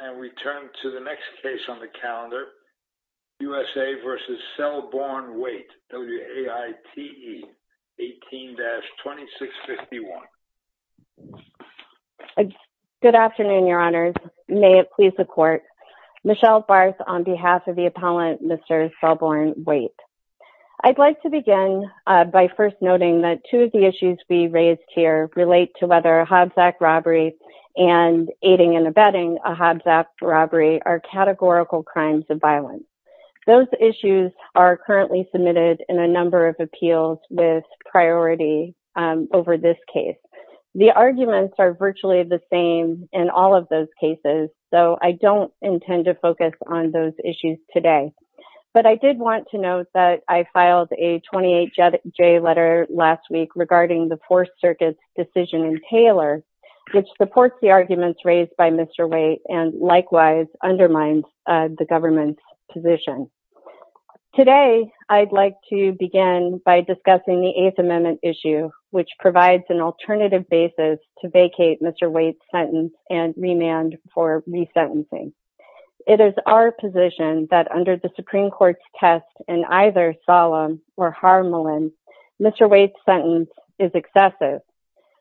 and we turn to the next case on the calendar, USA v. Selborne Waite, WAITE 18-2651. Good afternoon, your honors. May it please the court. Michelle Barth on behalf of the appellant, Mr. Selborne Waite. I'd like to begin by first noting that two of the issues we raised here relate to whether a Hobbs Act robbery and aiding and Hobbs Act robbery are categorical crimes of violence. Those issues are currently submitted in a number of appeals with priority over this case. The arguments are virtually the same in all of those cases, so I don't intend to focus on those issues today. But I did want to note that I filed a 28-J letter last week regarding the Fourth Circuit's decision in Taylor, which supports the likewise undermines the government's position. Today, I'd like to begin by discussing the Eighth Amendment issue, which provides an alternative basis to vacate Mr. Waite's sentence and remand for resentencing. It is our position that under the Supreme Court's test in either Solem or Harmelin, Mr. Waite's sentence is excessive.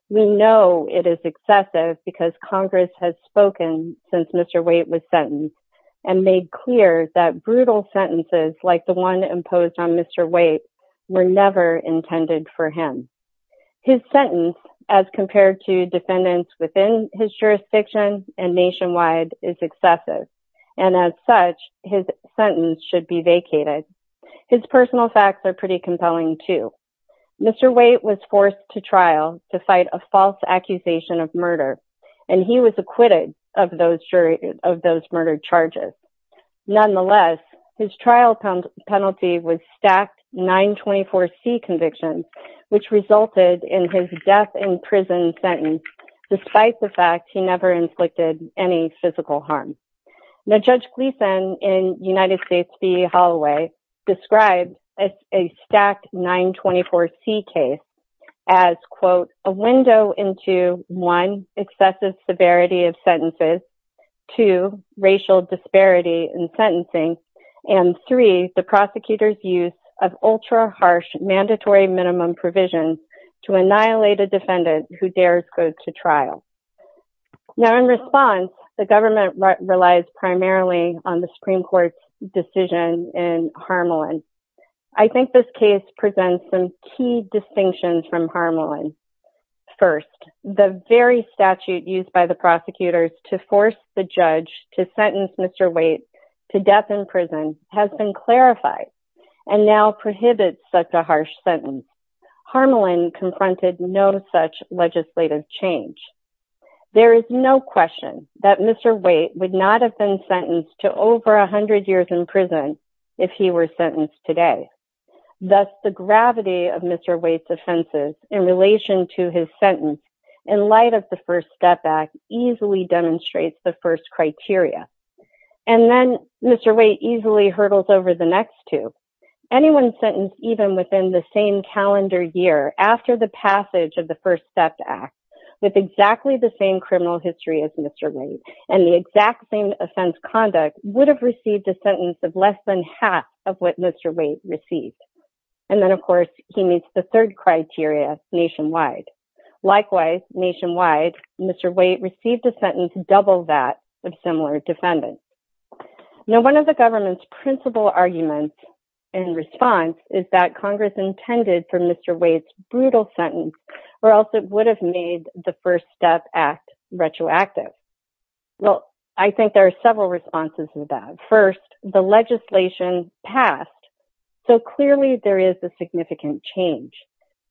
We know it is excessive because Congress has spoken since Mr. Waite was sentenced and made clear that brutal sentences like the one imposed on Mr. Waite were never intended for him. His sentence, as compared to defendants within his jurisdiction and nationwide, is excessive, and as such his sentence should be vacated. His personal facts are pretty compelling, too. Mr. Waite was forced to trial to fight a false accusation of murder, and he was acquitted of those murder charges. Nonetheless, his trial penalty was stacked 924C convictions, which resulted in his death in prison sentence, despite the fact he never inflicted any physical harm. Now, Judge Gleeson in United States v. Holloway describes a stacked 924C case as, quote, a window into, one, excessive severity of sentences, two, racial disparity in sentencing, and three, the prosecutor's use of ultra-harsh mandatory minimum provisions to annihilate a defendant who dares go to trial. Now, in response, the government relies primarily on the Supreme Court's decision in Harmelin. I think this case presents some key distinctions from Harmelin. First, the very statute used by the prosecutors to force the judge to sentence Mr. Waite to death in prison has been clarified, and now prohibits such a harsh sentence. Harmelin confronted no such legislative change. There is no question that Mr. Waite would not have been sentenced to over a hundred years in prison if he were sentenced today. Thus, the gravity of Mr. Waite's offenses in relation to his sentence, in light of the First Step Act, easily demonstrates the first criteria. And then, Mr. Waite easily hurdles over the next two. Anyone sentenced even within the same calendar year after the passage of the First Step Act, with exactly the same criminal history as Mr. Waite, and the exact same conduct, would have received a sentence of less than half of what Mr. Waite received. And then, of course, he meets the third criteria nationwide. Likewise, nationwide, Mr. Waite received a sentence double that of similar defendants. Now, one of the government's principal arguments in response is that Congress intended for Mr. Waite's brutal sentence, or else it would have made the First Step Act retroactive. Well, I think there are several responses to that. First, the legislation passed. So clearly, there is a significant change.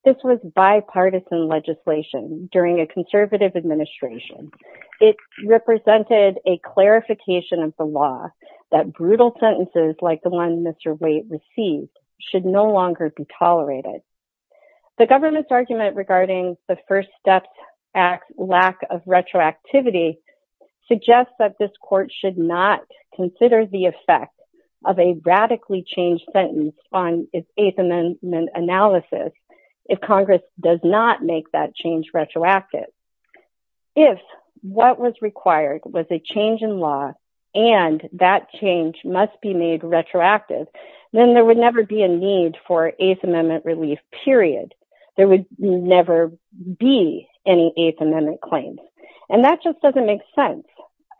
This was bipartisan legislation during a conservative administration. It represented a clarification of the law that brutal sentences like the one Mr. Waite received should no longer be tolerated. The government's argument regarding the First Step Act lack of retroactivity suggests that this court should not consider the effect of a radically changed sentence on its Eighth Amendment analysis if Congress does not make that change retroactive. If what was required was a change in law, and that change must be made retroactive, then there would never be a need for Eighth Amendment relief, period. There would never be any Eighth Amendment claims. And that just doesn't make sense.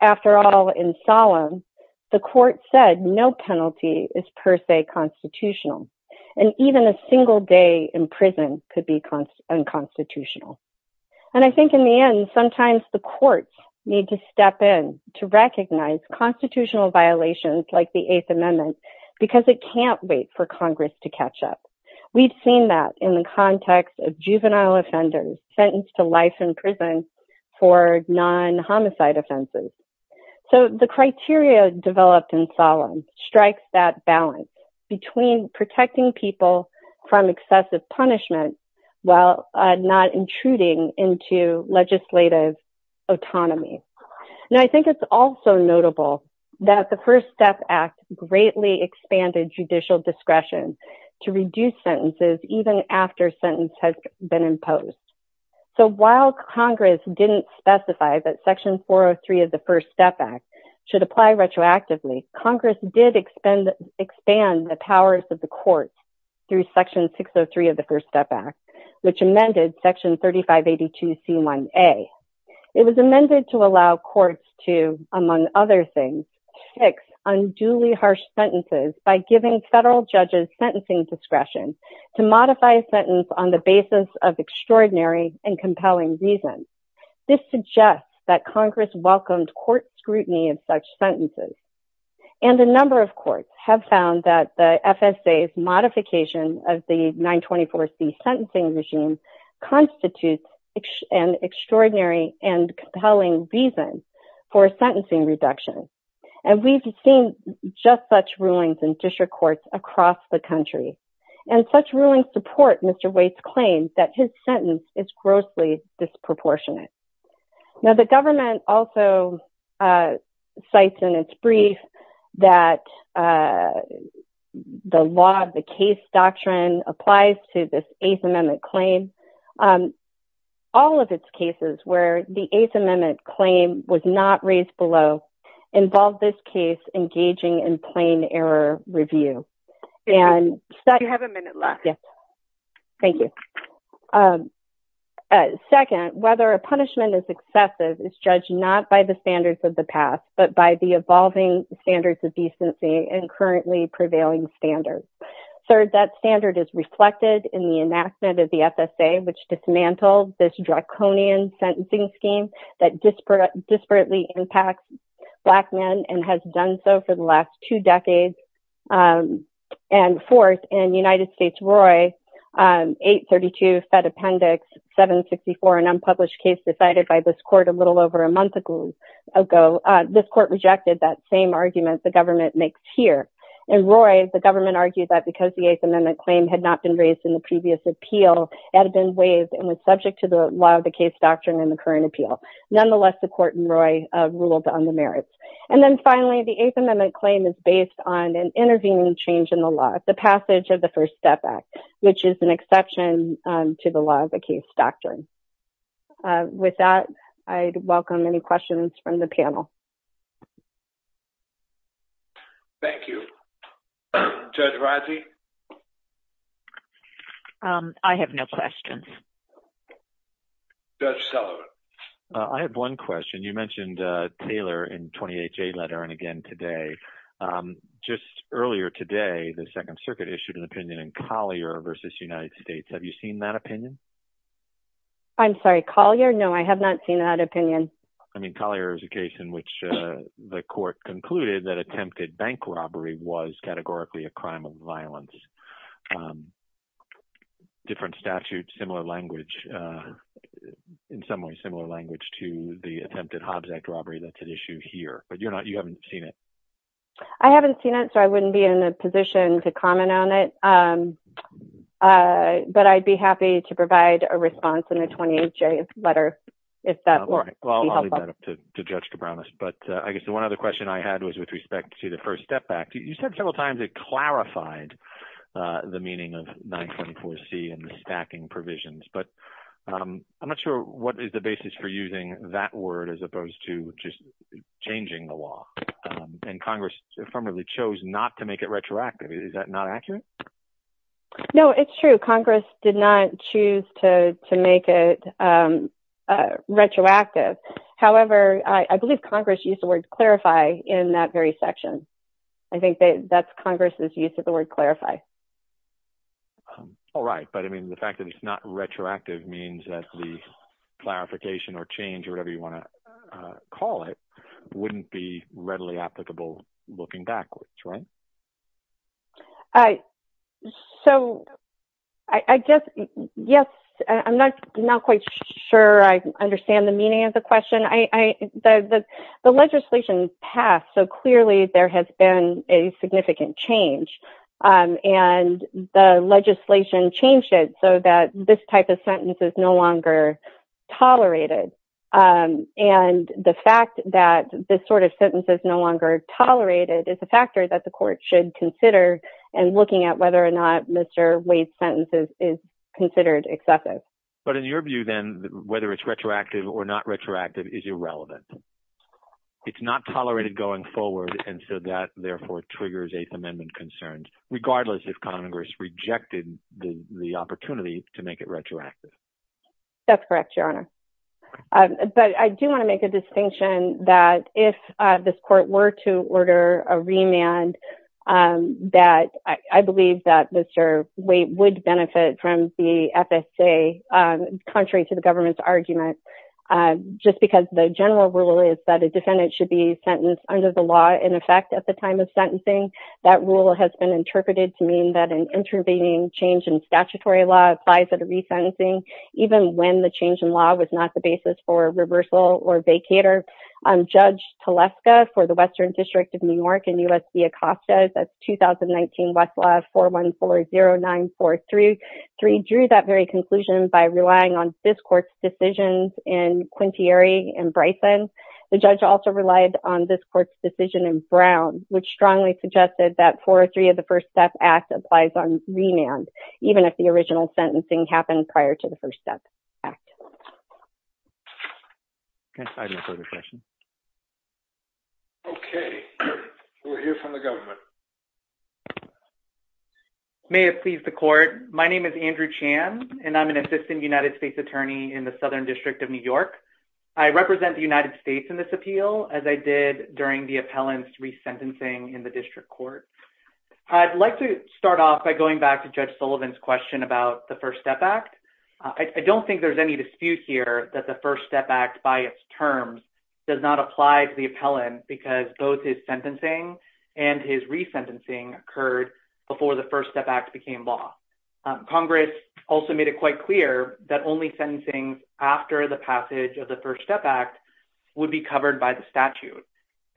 After all, in Solemn, the court said no penalty is per se constitutional. And even a single day in prison could be unconstitutional. And I think in the end, sometimes the courts need to step in to recognize constitutional violations like the Eighth Amendment, because it can't wait for Congress to catch up. We've seen that in the context of juvenile offenders sentenced to life in prison for non homicide offenses. So the criteria developed in Solemn strikes that balance between protecting people from excessive punishment, while not intruding into legislative autonomy. Now, I think it's also notable that the First Step Act greatly expanded judicial discretion to reduce sentences even after sentence has been imposed. So while Congress didn't specify that Section 403 of the First Step Act should apply retroactively, Congress did expand the powers of the courts through Section 603 of the First Step Act, which amended Section 3582 C1A. It was amended to allow courts to, among other things, fix unduly harsh sentences by giving federal judges sentencing discretion to modify a sentence on the basis of extraordinary and compelling reason. This suggests that Congress welcomed court scrutiny of such sentences. And a number of courts have found that the FSA's modification of the extraordinary and compelling reason for sentencing reduction. And we've seen just such rulings in district courts across the country. And such rulings support Mr. Waite's claims that his sentence is grossly disproportionate. Now, the government also cites in its brief that the law of the case doctrine applies to this Eighth Amendment cases, where the Eighth Amendment claim was not raised below, involved this case engaging in plain error review. And... You have a minute left. Yes. Thank you. Second, whether a punishment is excessive is judged not by the standards of the past, but by the evolving standards of decency and currently prevailing standards. Third, that standard is reflected in the enactment of the FSA, which dismantled this draconian sentencing scheme that disparately impacts Black men and has done so for the last two decades. And fourth, in United States, Roy, 832 Fed Appendix 764, an unpublished case decided by this court a little over a month ago, this court rejected that same argument the government makes here. And Roy, the government argued that because the Eighth Amendment claim had not been raised in the previous appeal, it had been waived and was subject to the law of the case doctrine in the current appeal. Nonetheless, the court in Roy ruled on the merits. And then finally, the Eighth Amendment claim is based on an intervening change in the law, the passage of the First Step Act, which is an exception to the law of the case doctrine. With that, I'd welcome any questions from the panel. Thank you. Judge Raji? I have no questions. Judge Sullivan? I have one question. You mentioned Taylor in 28J letter and again today. Just earlier today, the Second Circuit issued an opinion in Collier v. United States. Have you seen that opinion? I'm sorry, Collier? No, I have not seen that opinion. I mean, Collier is a case in which the court concluded that attempted bank robbery was categorically a crime of violence. Different statute, similar language. In some ways, similar language to the attempted Hobbs Act robbery that's at issue here. But you haven't seen it? I haven't seen it, so I wouldn't be in a position to comment on it. But I'd be happy to provide a response in the 28J letter if that would be helpful. Well, I'll leave that up to Judge Cabranes. But I guess the one other question I had was with respect to the First Step Act. You said several times it clarified the meaning of 924C and the stacking provisions. But I'm not sure what is the basis for using that word as opposed to just changing the law. And Congress affirmatively chose not to make it retroactive. Is that not accurate? No, it's true. Congress did not choose to make it retroactive. However, I believe Congress used the word clarify in that very section. I think that's Congress's use of the word clarify. All right. But I mean, the fact that it's not retroactive means that the clarification or change or whatever you want to call it wouldn't be readily applicable looking backwards, right? So I guess, yes, I'm not quite sure I understand the meaning of the question. The legislation passed, so clearly there has been a significant change. And the legislation changed it so that this type of sentence is no longer tolerated. And the fact that this sort of sentence is no longer tolerated is a factor that the court should consider in looking at whether or not Mr. Wade's sentence is considered excessive. But in your view, then, whether it's retroactive or not retroactive is irrelevant. It's not tolerated going forward. And so that, therefore, triggers Eighth Amendment concerns, regardless if Congress rejected the opportunity to make it retroactive. That's correct, Your Honor. But I do want to make a distinction that if this court were to order a remand, that I believe that Mr. Wade would benefit from the FSA, contrary to the government's argument, just because the general rule is that a defendant should be sentenced under the law in effect at the time of sentencing. That rule has been interpreted to mean that an intervening change in statutory law applies at a resentencing, even when the change in law was not the basis for reversal or vacator. Judge Teleska for the Western District of New York in U.S. v. Acosta's 2019 Westlaw 4140943 drew that very conclusion by relying on this court's decisions in Quintieri and Bryson. The judge also relied on this court's decision in Brown, which strongly suggested that 403 of the First Step Act applies on remand, even if the original sentencing happened prior to the First Step Act. Okay. We'll hear from the government. May it please the court. My name is Andrew Chan, and I'm an assistant United States attorney in the Southern District of New York. I represent the United States in this appeal, as I did during the appellant's resentencing in the district court. I'd like to start off by going back to Judge Sullivan's question about the First Step Act. I don't think there's any dispute here that the First Step Act by its terms does not apply to the appellant because both his sentencing and his resentencing occurred before the First Step Act became law. Congress also made it quite clear that only sentencing after the passage of the First Statute.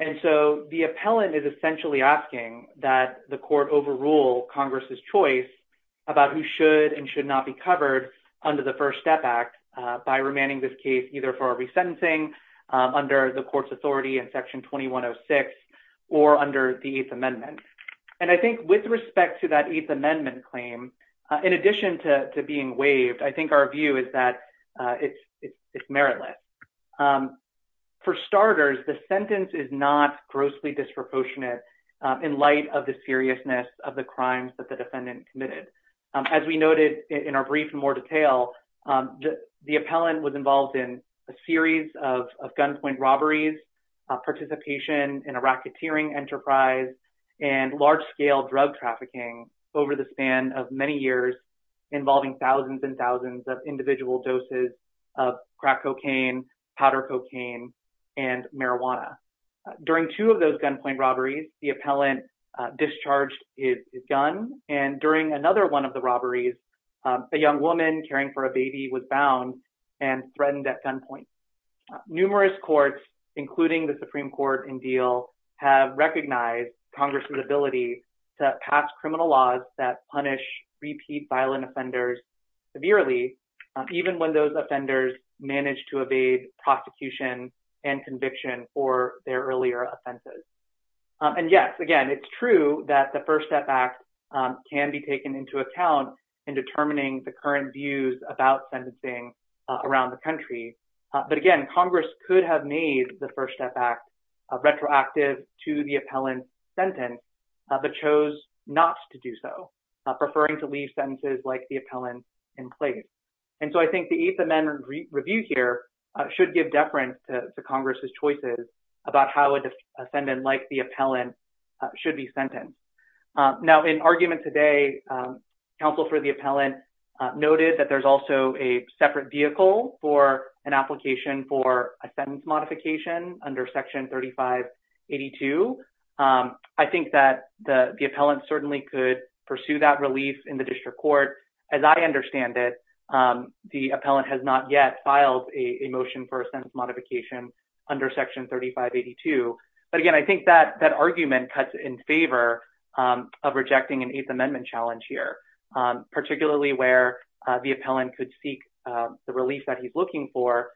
And so the appellant is essentially asking that the court overrule Congress's choice about who should and should not be covered under the First Step Act by remanding this case either for a resentencing under the court's authority in Section 2106 or under the Eighth Amendment. And I think with respect to that Eighth Amendment claim, in addition to being waived, I think our view is that it's meritless. For starters, the sentence is not grossly disproportionate in light of the seriousness of the crimes that the defendant committed. As we noted in our brief in more detail, the appellant was involved in a series of gunpoint robberies, participation in a racketeering enterprise, and large-scale drug trafficking over the span of many years involving thousands and thousands of individual doses of crack cocaine, powder cocaine, and marijuana. During two of those gunpoint robberies, the appellant discharged his gun, and during another one of the robberies, a young woman caring for a baby was found and threatened at gunpoint. Numerous courts, including the Supreme Court in Diehl, have recognized Congress's ability to pass criminal laws that punish repeat violent offenders severely, even when those offenders manage to evade prosecution and conviction for their earlier offenses. And yes, again, it's true that the First Step Act can be taken into account in determining the current views about sentencing around the country. But again, Congress could have made the First Step Act retroactive to the appellant's sentence, but chose not to do so, preferring to leave sentences like the appellant in place. And so I think the Eighth Amendment review here should give deference to Congress's choices about how an offendant like the appellant should be sentenced. Now, in argument today, counsel for the appellant noted that there's also a separate vehicle for an application for a sentence modification under Section 3582. I think that the appellant certainly could pursue that relief in the district court. As I understand it, the appellant has not yet filed a motion for a sentence modification under Section 3582. But again, I think that argument cuts in favor of rejecting an Eighth Amendment challenge here, particularly where the appellant could seek the relief that he's looking for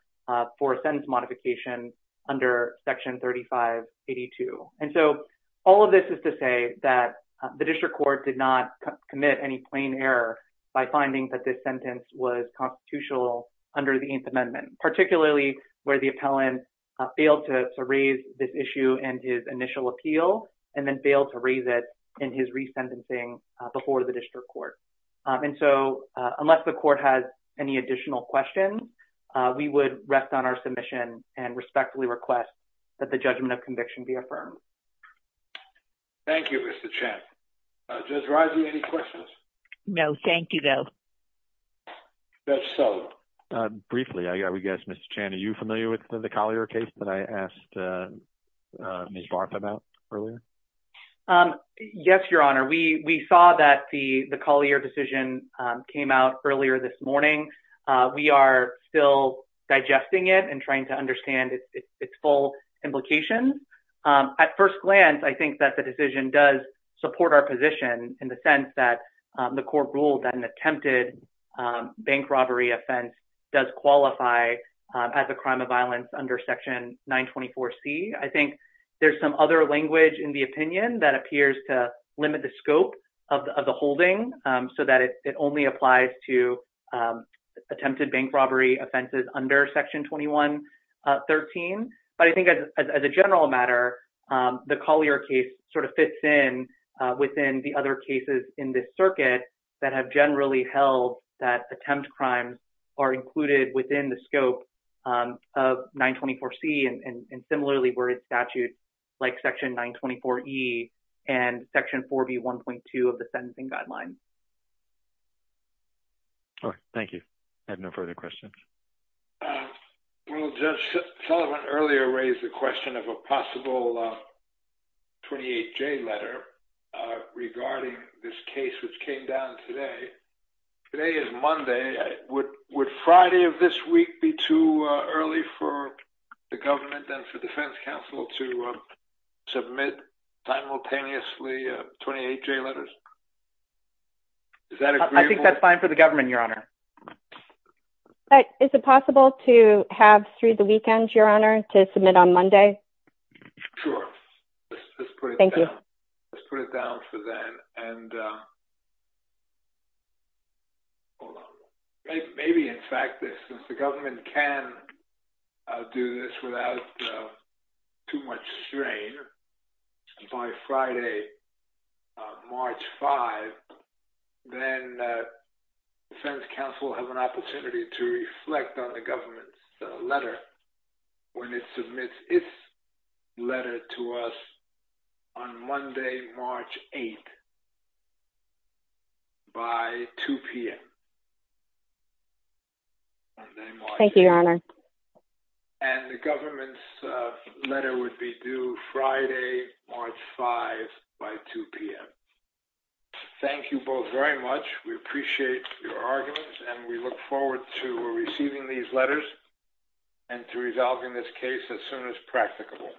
for a sentence modification under Section 3582. And so all of this is to say that the district court did not commit any plain error by finding that this sentence was constitutional under the Eighth Amendment, particularly where the appellant failed to district court. And so, unless the court has any additional questions, we would rest on our submission and respectfully request that the judgment of conviction be affirmed. Thank you, Mr. Chan. Judge Rising, any questions? No, thank you, though. Judge Sullivan. Briefly, I would guess, Mr. Chan, are you familiar with the Collier case that I asked Ms. Barth about earlier? Yes, Your Honor. We saw that the Collier decision came out earlier this morning. We are still digesting it and trying to understand its full implications. At first glance, I think that the decision does support our position in the sense that the court ruled that an attempted bank robbery offense does qualify as a crime of violence under Section 924C. I think there's some other language in the opinion that appears to limit the scope of the holding so that it only applies to attempted bank robbery offenses under Section 2113. But I think as a general matter, the Collier case sort of fits in within the other cases in this circuit that have generally held that attempt crimes are included within the scope of 924C and similarly where it's statute like Section 924E and Section 4B1.2 of the Sentencing Guidelines. All right. Thank you. I have no further questions. Well, Judge Sullivan earlier raised the question of a possible 28J letter regarding this case which came down today. Today is Monday. Would Friday of this week be too early for the government and for defense counsel to submit simultaneously 28J letters? I think that's fine for the government, Your Honor. Is it possible to have through the weekend, Your Honor, to submit on Monday? Sure. Let's put it down for then. And maybe, in fact, since the government can do this without too much strain, by Friday, March 5, then defense counsel will have an opportunity to reflect on the government's when it submits its letter to us on Monday, March 8 by 2 p.m. Thank you, Your Honor. And the government's letter would be due Friday, March 5 by 2 p.m. Thank you both very much. We appreciate your arguments and we look forward to receiving these letters and to resolving this case as soon as practicable.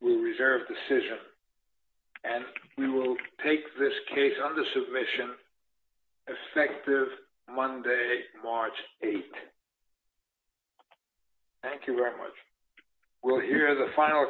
We reserve decision and we will take this case under submission effective Monday, March 8. Thank you very much. We'll hear the final...